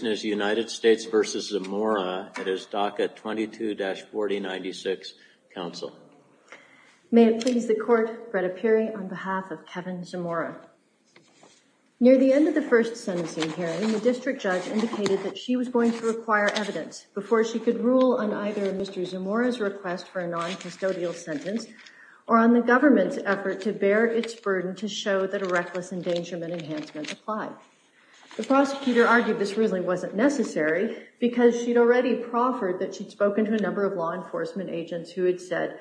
United States v. Zamora at his DACA 22-4096 Council. May it please the Court, Bretta Peary on behalf of Kevin Zamora. Near the end of the first sentencing hearing, the district judge indicated that she was going to require evidence before she could rule on either Mr. Zamora's request for a non-custodial sentence or on the government's effort to bear its burden to show that a reckless endangerment enhancement applied. The prosecutor argued this really wasn't necessary because she'd already proffered that she'd spoken to a number of law enforcement agents who had said,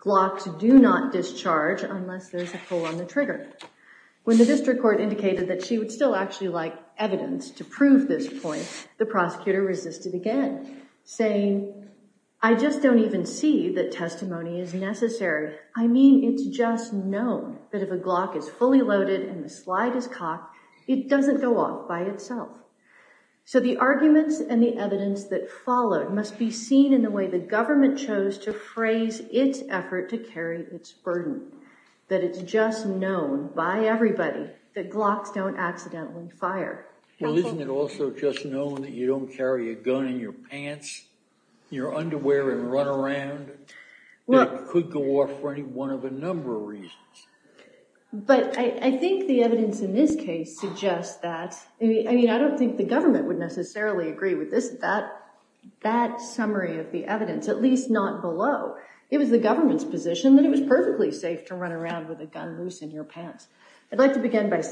Glocks do not discharge unless there's a pull on the trigger. When the district court indicated that she would still actually like evidence to prove this point, the prosecutor resisted again, saying, I just don't even see that testimony is necessary. I mean, it's just known that if a Glock is fully loaded and the slide is cocked, it doesn't go off by itself. So the arguments and the evidence that followed must be seen in the way the government chose to phrase its effort to carry its burden, that it's just known by everybody that Glocks don't accidentally fire. Well, isn't it also just known that you don't carry a gun in your pants, your underwear and run around, but I think the evidence in this case suggests that. I mean, I don't think the government would necessarily agree with this, that that summary of the evidence, at least not below. It was the government's position that it was perfectly safe to run around with a gun loose in your pants. I'd like to begin by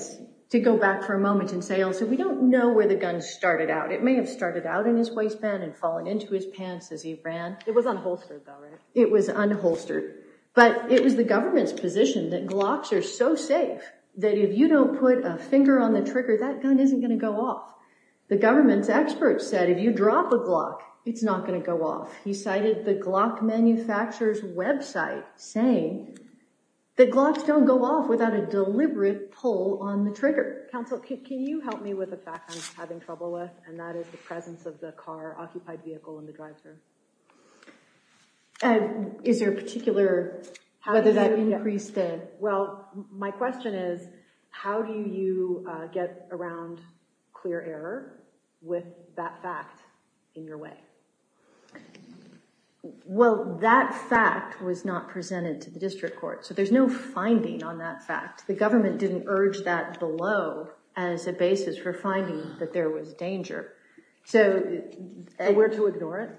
to go back for a moment and say also, we don't know where the gun started out. It may have started out in his waistband and falling into his pants as he ran. It was unholstered. It was unholstered. But it was the government's position that Glocks are so safe that if you don't put a finger on the trigger, that gun isn't going to go off. The government's experts said if you drop a Glock, it's not going to go off. He cited the Glock manufacturer's website saying that Glocks don't go off without a deliberate pull on the trigger. Counsel, can you help me with a fact I'm having trouble with, and that is the presence of the car, occupied vehicle and the driver? And is there a particular whether that increased it? Well, my question is, how do you get around clear error with that fact in your way? Well, that fact was not presented to the district court. So there's no finding on that fact. The government didn't urge that below as a basis for finding that there was danger. So we're to ignore it?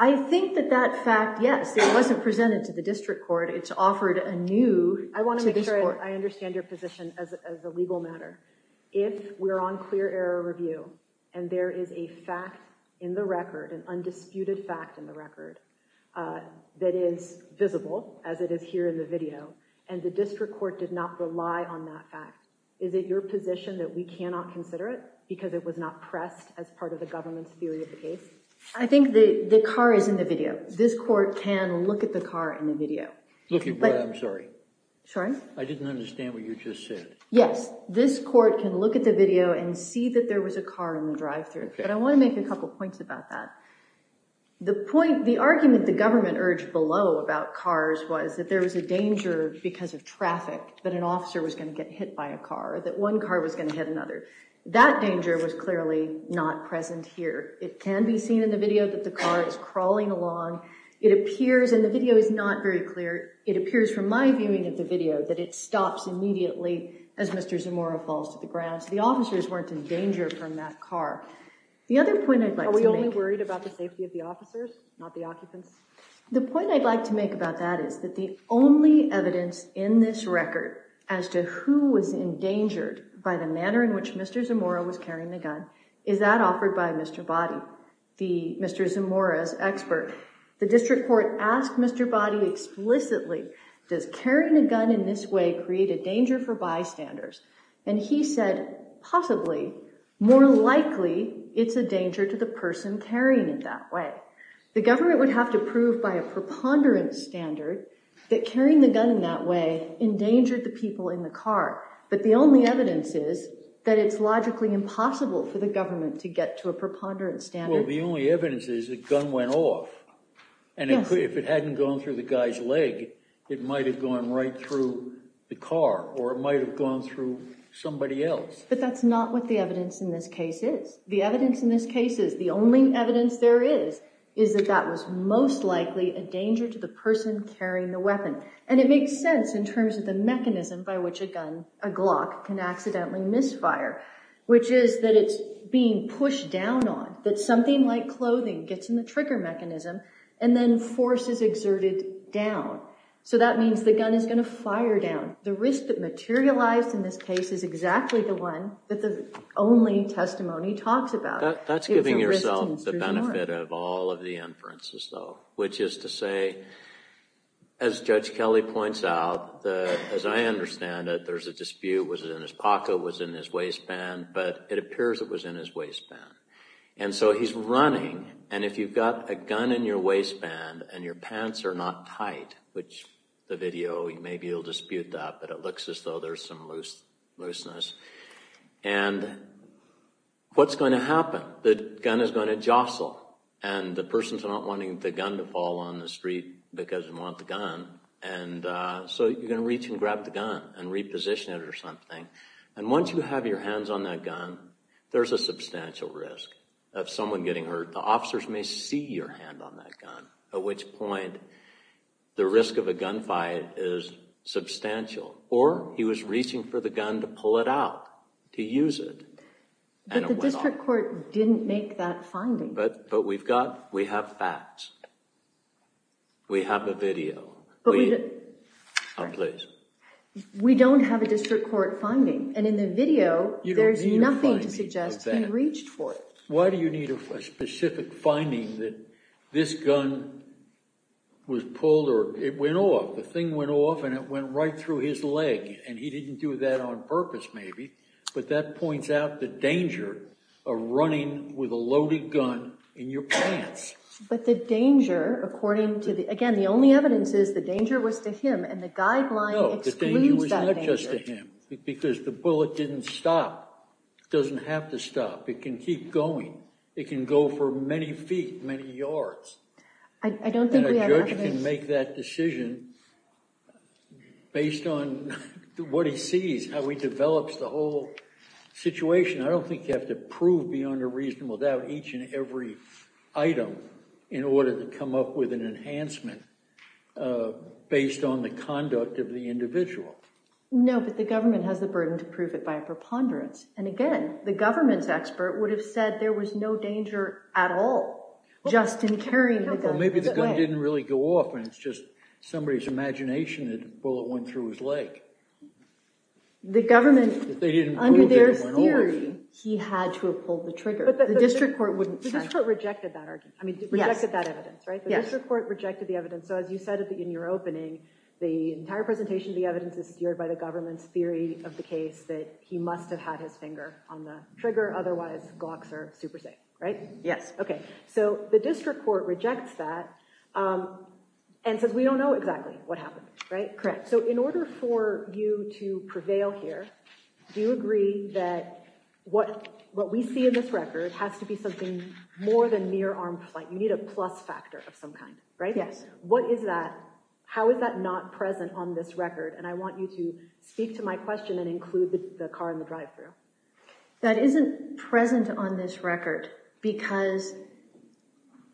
I think that that fact, yes, it wasn't presented to the district court. It's offered anew to this court. I want to make sure I understand your position as a legal matter. If we're on clear error review and there is a fact in the record, an undisputed fact in the record that is visible, as it is here in the video, and the district court did not rely on that fact, is it your position that we cannot consider it because it was not pressed as part of the government's theory of the case? I think the car is in the video. This court can look at the car in the video. I'm sorry. Sorry? I didn't understand what you just said. Yes. This court can look at the video and see that there was a car in the drive-through. But I want to make a couple points about that. The point, the argument the government urged below about cars was that there was a danger because of traffic that an officer was going to get hit by a car, that one car was going to hit another. That danger was clearly not present here. It can be seen in the video that the car is crawling along. It appears, and the video is not very clear, it appears from my viewing of the video that it stops immediately as Mr. Zamora falls to the ground. So the officers weren't in danger from that car. The other point I'd like to make. Are we only worried about the safety of the officers, not the occupants? The point I'd like to make about that is that the only evidence in this record as to who was endangered by the manner in which Mr. Zamora was carrying the gun is that offered by Mr. Boddy, Mr. Zamora's expert. The district court asked Mr. Boddy explicitly, does carrying a gun in this way create a danger for bystanders? And he said, possibly, more likely, it's a danger to the person carrying it that way. The government would have to prove by a preponderance standard that carrying the gun in that way endangered the people in the car. But the only evidence is that it's logically impossible for the government to get to a preponderance standard. Well, the only evidence is the gun went off. And if it hadn't gone through the guy's leg, it might have gone right through the car or it might have gone through somebody else. But that's not what the evidence in this case is. The evidence in this case is the only evidence there is is that that was most likely a danger to the person carrying the weapon. And it makes sense in terms of the mechanism by which a gun, a Glock, can accidentally misfire, which is that it's being pushed down on, that something like clothing gets in the trigger mechanism and then force is exerted down. So that means the gun is going to fire down. The risk that materialized in this case is exactly the one that the only testimony talks about. That's giving yourself the benefit of all of the inferences, though, which is to say, as Judge Kelly points out, as I understand it, there's a dispute, was it in his pocket, was it in his waistband? But it appears it was in his waistband. And so he's running. And if you've got a gun in your waistband and your pants are not tight, which the video, maybe you'll dispute that, but it looks as though there's some looseness, and what's going to happen? The gun is going to jostle. And the person's not wanting the gun to fall on the street because they want the gun. And so you're going to reach and grab the gun and reposition it or something. And once you have your hands on that gun, there's a substantial risk of someone getting hurt. The officers may see your hand on that gun, at which point the risk of a gunfight is substantial. Or he was reaching for the gun to pull it out, to use it. But the district court didn't make that finding. But we have facts. We have a video. Oh, please. We don't have a district court finding. And in the video, there's nothing to suggest he reached for it. Why do you need a specific finding that this gun was pulled or it went off? The thing went off, and it went right through his leg. And he didn't do that on purpose, maybe. But that points out the danger of running with a loaded gun in your pants. But the danger, according to the – again, the only evidence is the danger was to him, and the guideline excludes that danger. No, the danger was not just to him, because the bullet didn't stop. It doesn't have to stop. It can keep going. It can go for many feet, many yards. And a judge can make that decision based on what he sees, how he develops the whole situation. I don't think you have to prove beyond a reasonable doubt each and every item in order to come up with an enhancement based on the conduct of the individual. No, but the government has the burden to prove it by a preponderance. And again, the government's expert would have said there was no danger at all just in carrying the gun. Well, maybe the gun didn't really go off, and it's just somebody's imagination that the bullet went through his leg. The government, under their theory, he had to have pulled the trigger. The district court wouldn't have. But the district court rejected that argument. I mean, rejected that evidence, right? The district court rejected the evidence. So as you said in your opening, the entire presentation of the evidence is steered by the government's theory of the case that he must have had his finger on the trigger, otherwise Glocks are super safe, right? Yes. Okay, so the district court rejects that and says we don't know exactly what happened, right? Correct. So in order for you to prevail here, do you agree that what we see in this record has to be something more than mere armed flight? You need a plus factor of some kind, right? Yes. What is that? How is that not present on this record? And I want you to speak to my question and include the car in the drive-through. That isn't present on this record because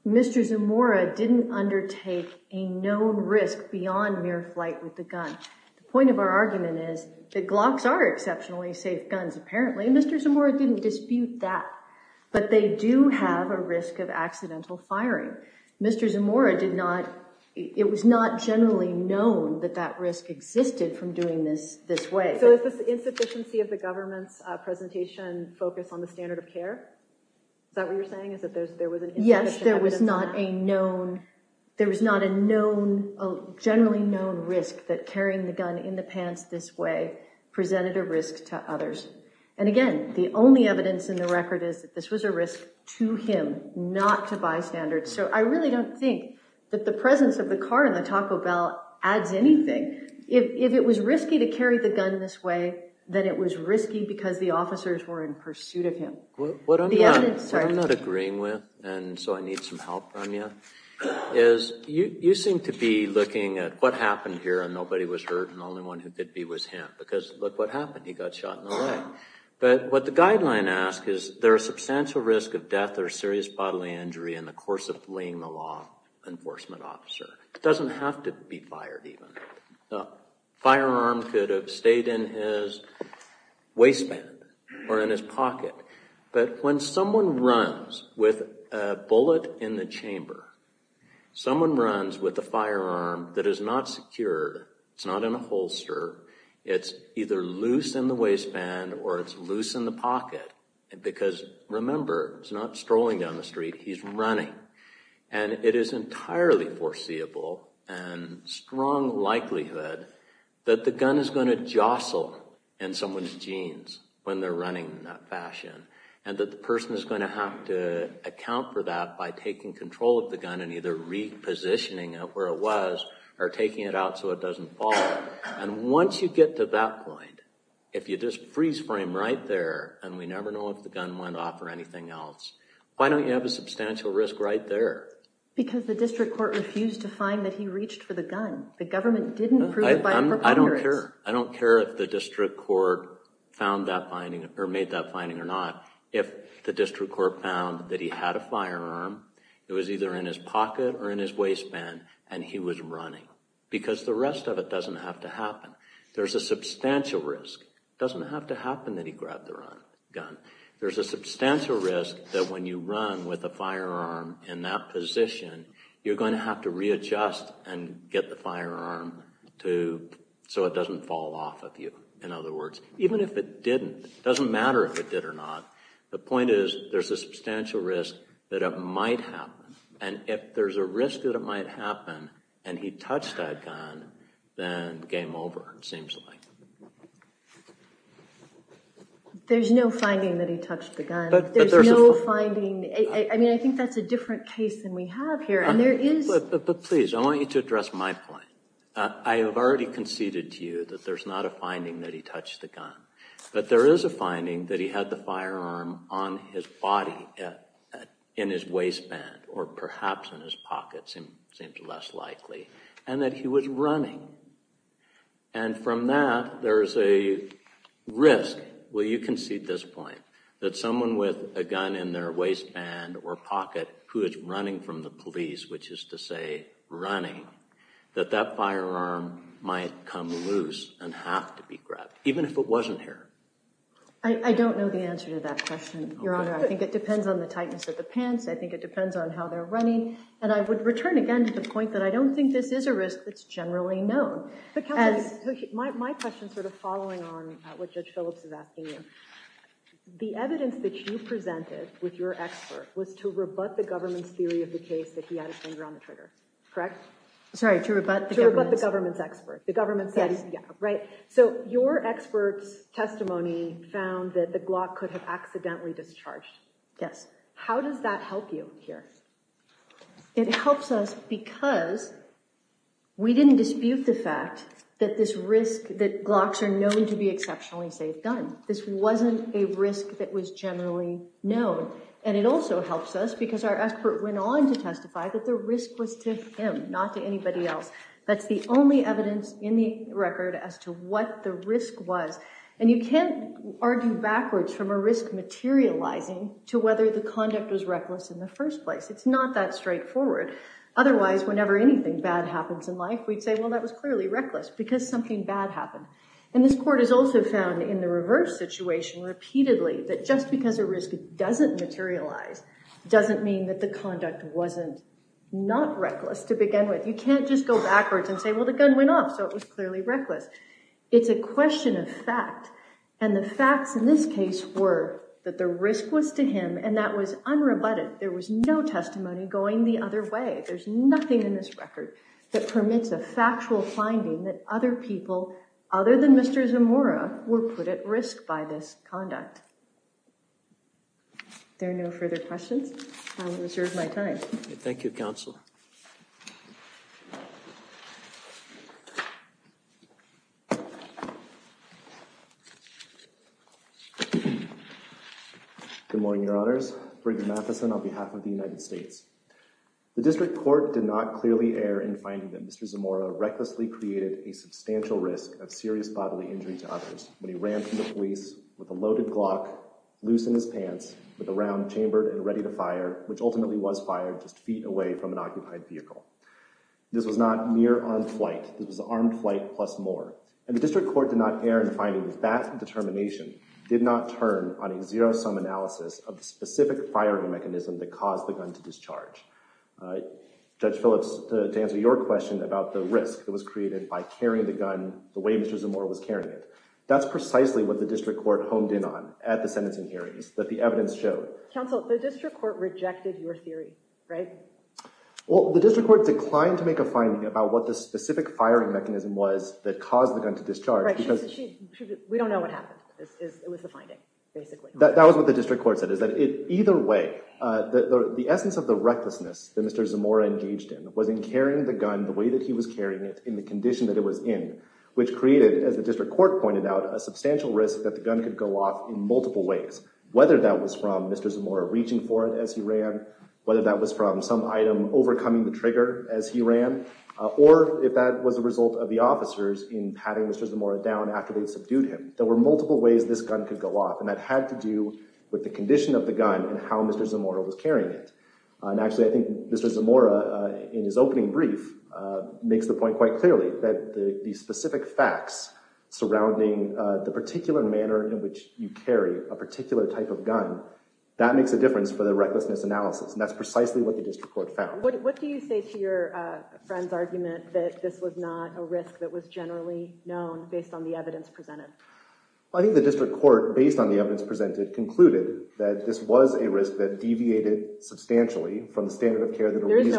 Mr. Zamora didn't undertake a known risk beyond mere flight with the gun. The point of our argument is that Glocks are exceptionally safe guns, apparently. Mr. Zamora didn't dispute that. But they do have a risk of accidental firing. Mr. Zamora did not, it was not generally known that that risk existed from doing this this way. So is this insufficiency of the government's presentation focused on the standard of care? Is that what you're saying? Is that there was an insufficient evidence? Yes, there was not a known, there was not a known, generally known risk that carrying the gun in the pants this way presented a risk to others. And again, the only evidence in the record is that this was a risk to him not to bystanders. So I really don't think that the presence of the car in the Taco Bell adds anything. If it was risky to carry the gun this way, then it was risky because the officers were in pursuit of him. What I'm not agreeing with, and so I need some help from you, is you seem to be looking at what happened here and nobody was hurt and the only one who did be was him. Because look what happened, he got shot in the leg. But what the guideline asks is, is there a substantial risk of death or serious bodily injury in the course of laying the law enforcement officer? It doesn't have to be fired even. A firearm could have stayed in his waistband or in his pocket. But when someone runs with a bullet in the chamber, someone runs with a firearm that is not secured, it's not in a holster, it's either loose in the waistband or it's loose in the pocket, because remember, he's not strolling down the street, he's running. And it is entirely foreseeable and strong likelihood that the gun is going to jostle in someone's jeans when they're running in that fashion and that the person is going to have to account for that by taking control of the gun and either repositioning it where it was or taking it out so it doesn't fall. And once you get to that point, if you just freeze frame right there and we never know if the gun went off or anything else, why don't you have a substantial risk right there? Because the district court refused to find that he reached for the gun. The government didn't prove by a preponderance. I don't care. I don't care if the district court found that finding or made that finding or not. If the district court found that he had a firearm, it was either in his pocket or in his waistband, and he was running. Because the rest of it doesn't have to happen. There's a substantial risk. It doesn't have to happen that he grabbed the gun. There's a substantial risk that when you run with a firearm in that position, you're going to have to readjust and get the firearm so it doesn't fall off of you, in other words. Even if it didn't, it doesn't matter if it did or not. The point is there's a substantial risk that it might happen. And if there's a risk that it might happen and he touched that gun, then game over, it seems like. There's no finding that he touched the gun. There's no finding. I mean, I think that's a different case than we have here, and there is. But please, I want you to address my point. I have already conceded to you that there's not a finding that he touched the gun. But there is a finding that he had the firearm on his body in his waistband or perhaps in his pocket seems less likely, and that he was running. And from that, there's a risk, well, you concede this point, that someone with a gun in their waistband or pocket who is running from the police, which is to say running, that that firearm might come loose and have to be grabbed, even if it wasn't here. I don't know the answer to that question, Your Honor. I think it depends on the tightness of the pants. I think it depends on how they're running. And I would return again to the point that I don't think this is a risk that's generally known. My question is sort of following on what Judge Phillips is asking you. The evidence that you presented with your expert was to rebut the government's theory of the case that he had a finger on the trigger, correct? Sorry, to rebut the government's. To rebut the government's expert. The government said, yeah, right. So your expert's testimony found that the Glock could have accidentally discharged. Yes. How does that help you here? It helps us because we didn't dispute the fact that this risk, that Glocks are known to be exceptionally safe guns. This wasn't a risk that was generally known. And it also helps us because our expert went on to testify that the risk was to him, not to anybody else. That's the only evidence in the record as to what the risk was. And you can't argue backwards from a risk materializing to whether the conduct was reckless in the first place. It's not that straightforward. Otherwise, whenever anything bad happens in life, we'd say, well, that was clearly reckless because something bad happened. And this court has also found in the reverse situation repeatedly that just because a risk doesn't materialize doesn't mean that the conduct wasn't not reckless to begin with. You can't just go backwards and say, well, the gun went off, so it was clearly reckless. It's a question of fact. And the facts in this case were that the risk was to him, and that was unrebutted. There was no testimony going the other way. There's nothing in this record that permits a factual finding that other people, other than Mr. Zamora, were put at risk by this conduct. If there are no further questions, I will reserve my time. Thank you, Counsel. Good morning, Your Honors. Brigham Matheson on behalf of the United States. The district court did not clearly err in finding that Mr. Zamora recklessly created a substantial risk of serious bodily injury to others when he ran to the police with a loaded Glock, loose in his pants, with a round chambered and ready to fire, which ultimately was fired just feet away from an occupied vehicle. This was not mere armed flight. This was armed flight plus more. And the district court did not err in finding that that determination did not turn on a zero-sum analysis of the specific firing mechanism that caused the gun to discharge. Judge Phillips, to answer your question about the risk that was created by carrying the gun the way Mr. Zamora was carrying it, that's precisely what the district court honed in on at the sentencing hearings that the evidence showed. Counsel, the district court rejected your theory, right? Well, the district court declined to make a finding about what the specific firing mechanism was that caused the gun to discharge. Correct. We don't know what happened. It was the finding, basically. That was what the district court said, is that either way, the essence of the recklessness that Mr. Zamora engaged in was in carrying the gun the way that he was carrying it in the condition that it was in, which created, as the district court pointed out, a substantial risk that the gun could go off in multiple ways, whether that was from Mr. Zamora reaching for it as he ran, whether that was from some item overcoming the trigger as he ran, or if that was a result of the officers in patting Mr. Zamora down after they'd subdued him. There were multiple ways this gun could go off, and that had to do with the condition of the gun and how Mr. Zamora was carrying it. And actually, I think Mr. Zamora, in his opening brief, makes the point quite clearly that the specific facts surrounding the particular manner in which you carry a particular type of gun, that makes a difference for the recklessness analysis, and that's precisely what the district court found. What do you say to your friend's argument that this was not a risk that was generally known based on the evidence presented? I think the district court, based on the evidence presented, concluded that this was a risk that deviated substantially from the standard of care that a reason—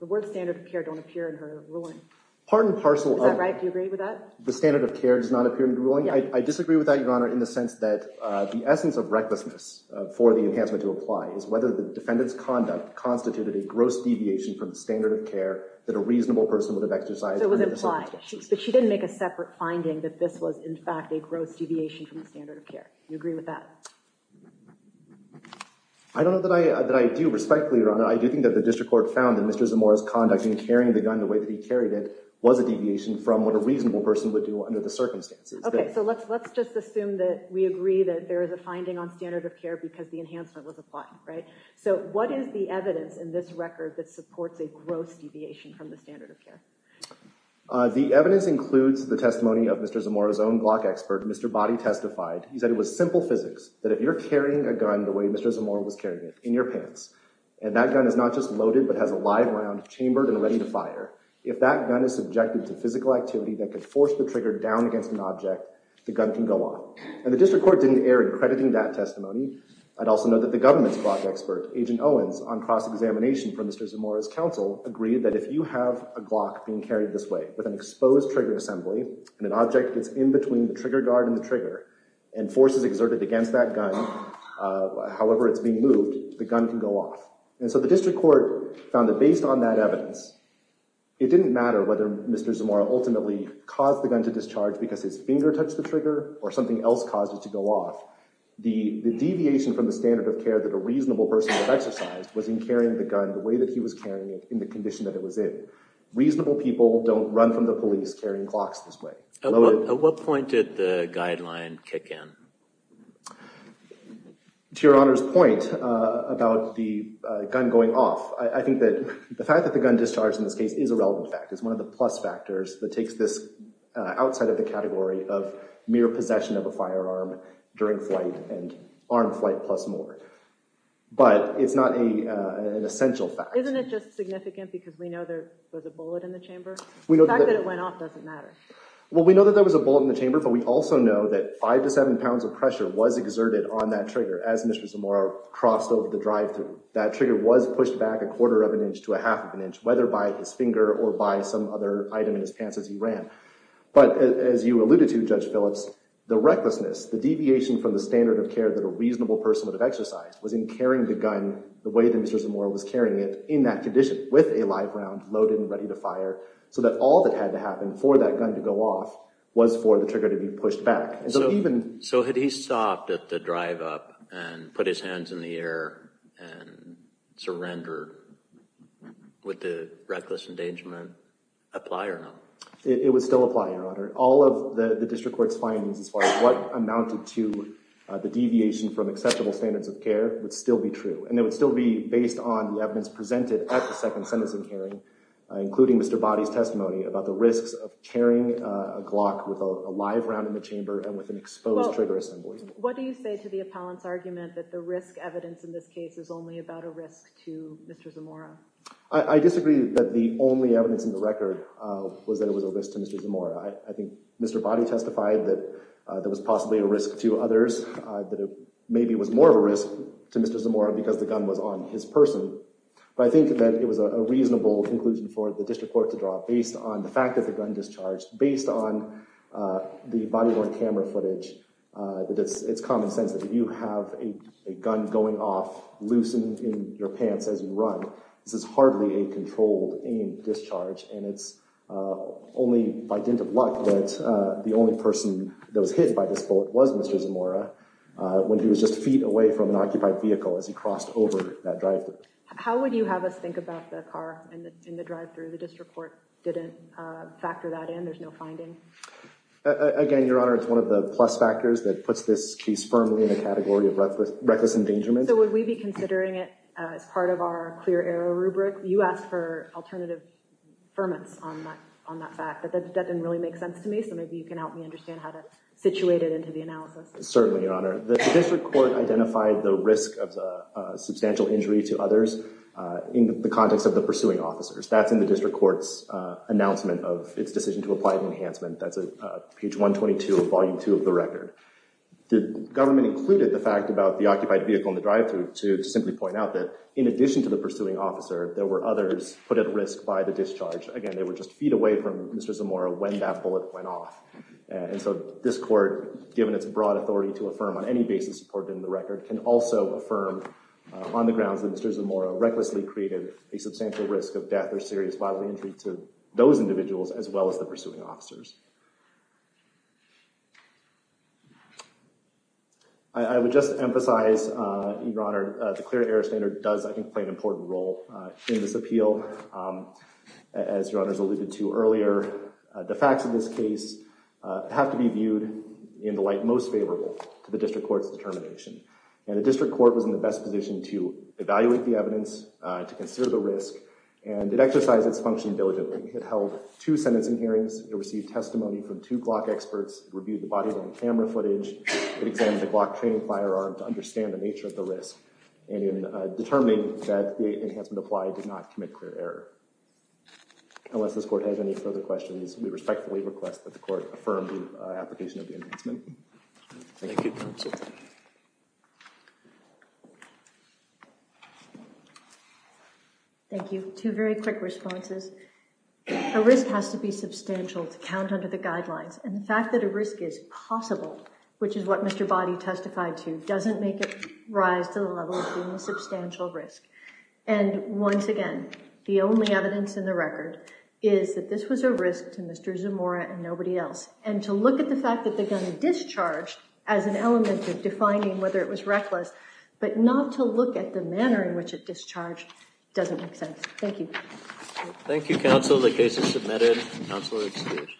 The word standard of care don't appear in her ruling. Part and parcel of— Is that right? Do you agree with that? The standard of care does not appear in the ruling? I disagree with that, Your Honor, in the sense that the essence of recklessness for the enhancement to apply is whether the defendant's conduct constituted a gross deviation from the standard of care that a reasonable person would have exercised— So it was implied. But she didn't make a separate finding that this was, in fact, a gross deviation from the standard of care. Do you agree with that? I don't know that I do respect, Your Honor. I do think that the district court found that Mr. Zamora's conduct in carrying the gun the way that he carried it was a deviation from what a reasonable person would do under the circumstances. Okay, so let's just assume that we agree that there is a finding on standard of care because the enhancement was applied, right? So what is the evidence in this record that supports a gross deviation from the standard of care? The evidence includes the testimony of Mr. Zamora's own Glock expert, Mr. Body Testified. He said it was simple physics, that if you're carrying a gun the way Mr. Zamora was carrying it, in your pants, and that gun is not just loaded but has a live round chambered and ready to fire, if that gun is subjected to physical activity that could force the trigger down against an object, the gun can go on. And the district court didn't err in crediting that testimony. I'd also note that the government's Glock expert, Agent Owens, on cross-examination for Mr. Zamora's counsel, agreed that if you have a Glock being carried this way with an exposed trigger assembly and an object gets in between the trigger guard and the trigger and force is exerted against that gun, however it's being moved, the gun can go off. And so the district court found that based on that evidence, it didn't matter whether Mr. Zamora ultimately caused the gun to discharge because his finger touched the trigger or something else caused it to go off. The deviation from the standard of care that a reasonable person would have exercised was in carrying the gun the way that he was carrying it in the condition that it was in. Reasonable people don't run from the police carrying Glocks this way. At what point did the guideline kick in? To Your Honor's point about the gun going off, I think that the fact that the gun discharged in this case is a relevant fact. It's one of the plus factors that takes this outside of the category of mere possession of a firearm during flight and armed flight plus more. But it's not an essential fact. Isn't it just significant because we know there was a bullet in the chamber? The fact that it went off doesn't matter. Well, we know that there was a bullet in the chamber, but we also know that five to seven pounds of pressure was exerted on that trigger as Mr. Zamora crossed over the drive-through. That trigger was pushed back a quarter of an inch to a half of an inch, whether by his finger or by some other item in his pants as he ran. But as you alluded to, Judge Phillips, the recklessness, the deviation from the standard of care that a reasonable person would have exercised was in carrying the gun the way that Mr. Zamora was carrying it in that condition with a live round loaded and ready to fire so that all that had to happen for that gun to go off was for the trigger to be pushed back. So had he stopped at the drive-up and put his hands in the air and surrendered, would the reckless endangerment apply or not? It would still apply, Your Honor. All of the district court's findings as far as what amounted to the deviation from acceptable standards of care would still be true, and it would still be based on the evidence presented at the second sentencing hearing, including Mr. Boddy's testimony about the risks of carrying a Glock with a live round in the chamber and with an exposed trigger assembly. Well, what do you say to the appellant's argument that the risk evidence in this case is only about a risk to Mr. Zamora? I disagree that the only evidence in the record was that it was a risk to Mr. Zamora. I think Mr. Boddy testified that there was possibly a risk to others, that maybe it was more of a risk to Mr. Zamora because the gun was on his person. But I think that it was a reasonable conclusion for the district court to draw based on the fact that the gun discharged, based on the body-worn camera footage, that it's common sense that if you have a gun going off loose in your pants as you run, this is hardly a controlled-aim discharge, and it's only by dint of luck that the only person that was hit by this bullet was Mr. Zamora when he was just feet away from an occupied vehicle as he crossed over that drive-through. How would you have us think about the car in the drive-through? The district court didn't factor that in. There's no finding. Again, Your Honor, it's one of the plus factors that puts this case firmly in the category of reckless endangerment. So would we be considering it as part of our clear-error rubric? You asked for alternative affirmance on that fact, but that didn't really make sense to me, so maybe you can help me understand how to situate it into the analysis. Certainly, Your Honor. The district court identified the risk of the substantial injury to others in the context of the pursuing officers. That's in the district court's announcement of its decision to apply an enhancement. That's page 122 of Volume 2 of the record. The government included the fact about the occupied vehicle in the drive-through to simply point out that in addition to the pursuing officer, there were others put at risk by the discharge. Again, they were just feet away from Mr. Zamora when that bullet went off. And so this court, given its broad authority to affirm on any basis supported in the record, can also affirm on the grounds that Mr. Zamora recklessly created a substantial risk of death or serious bodily injury to those individuals as well as the pursuing officers. I would just emphasize, Your Honor, the clear-error standard does, I think, play an important role in this appeal. As Your Honors alluded to earlier, the facts of this case have to be viewed in the light most favorable to the district court's determination. And the district court was in the best position to evaluate the evidence, to consider the risk, and it exercised its function diligently. It held two sentencing hearings. It received testimony from two Glock experts. It reviewed the body-worn camera footage. It examined the Glock training firearm to understand the nature of the risk and in determining that the enhancement applied, did not commit clear error. Unless this court has any further questions, we respectfully request that the court affirm the application of the enhancement. Thank you, counsel. Thank you. Two very quick responses. A risk has to be substantial to count under the guidelines. And the fact that a risk is possible, which is what Mr. Boddy testified to, doesn't make it rise to the level of being a substantial risk. And once again, the only evidence in the record is that this was a risk to Mr. Zamora and nobody else. And to look at the fact that the gun discharged as an element of defining whether it was reckless, but not to look at the manner in which it discharged doesn't make sense. Thank you. Thank you, counsel. The case is submitted. Counsel is excused.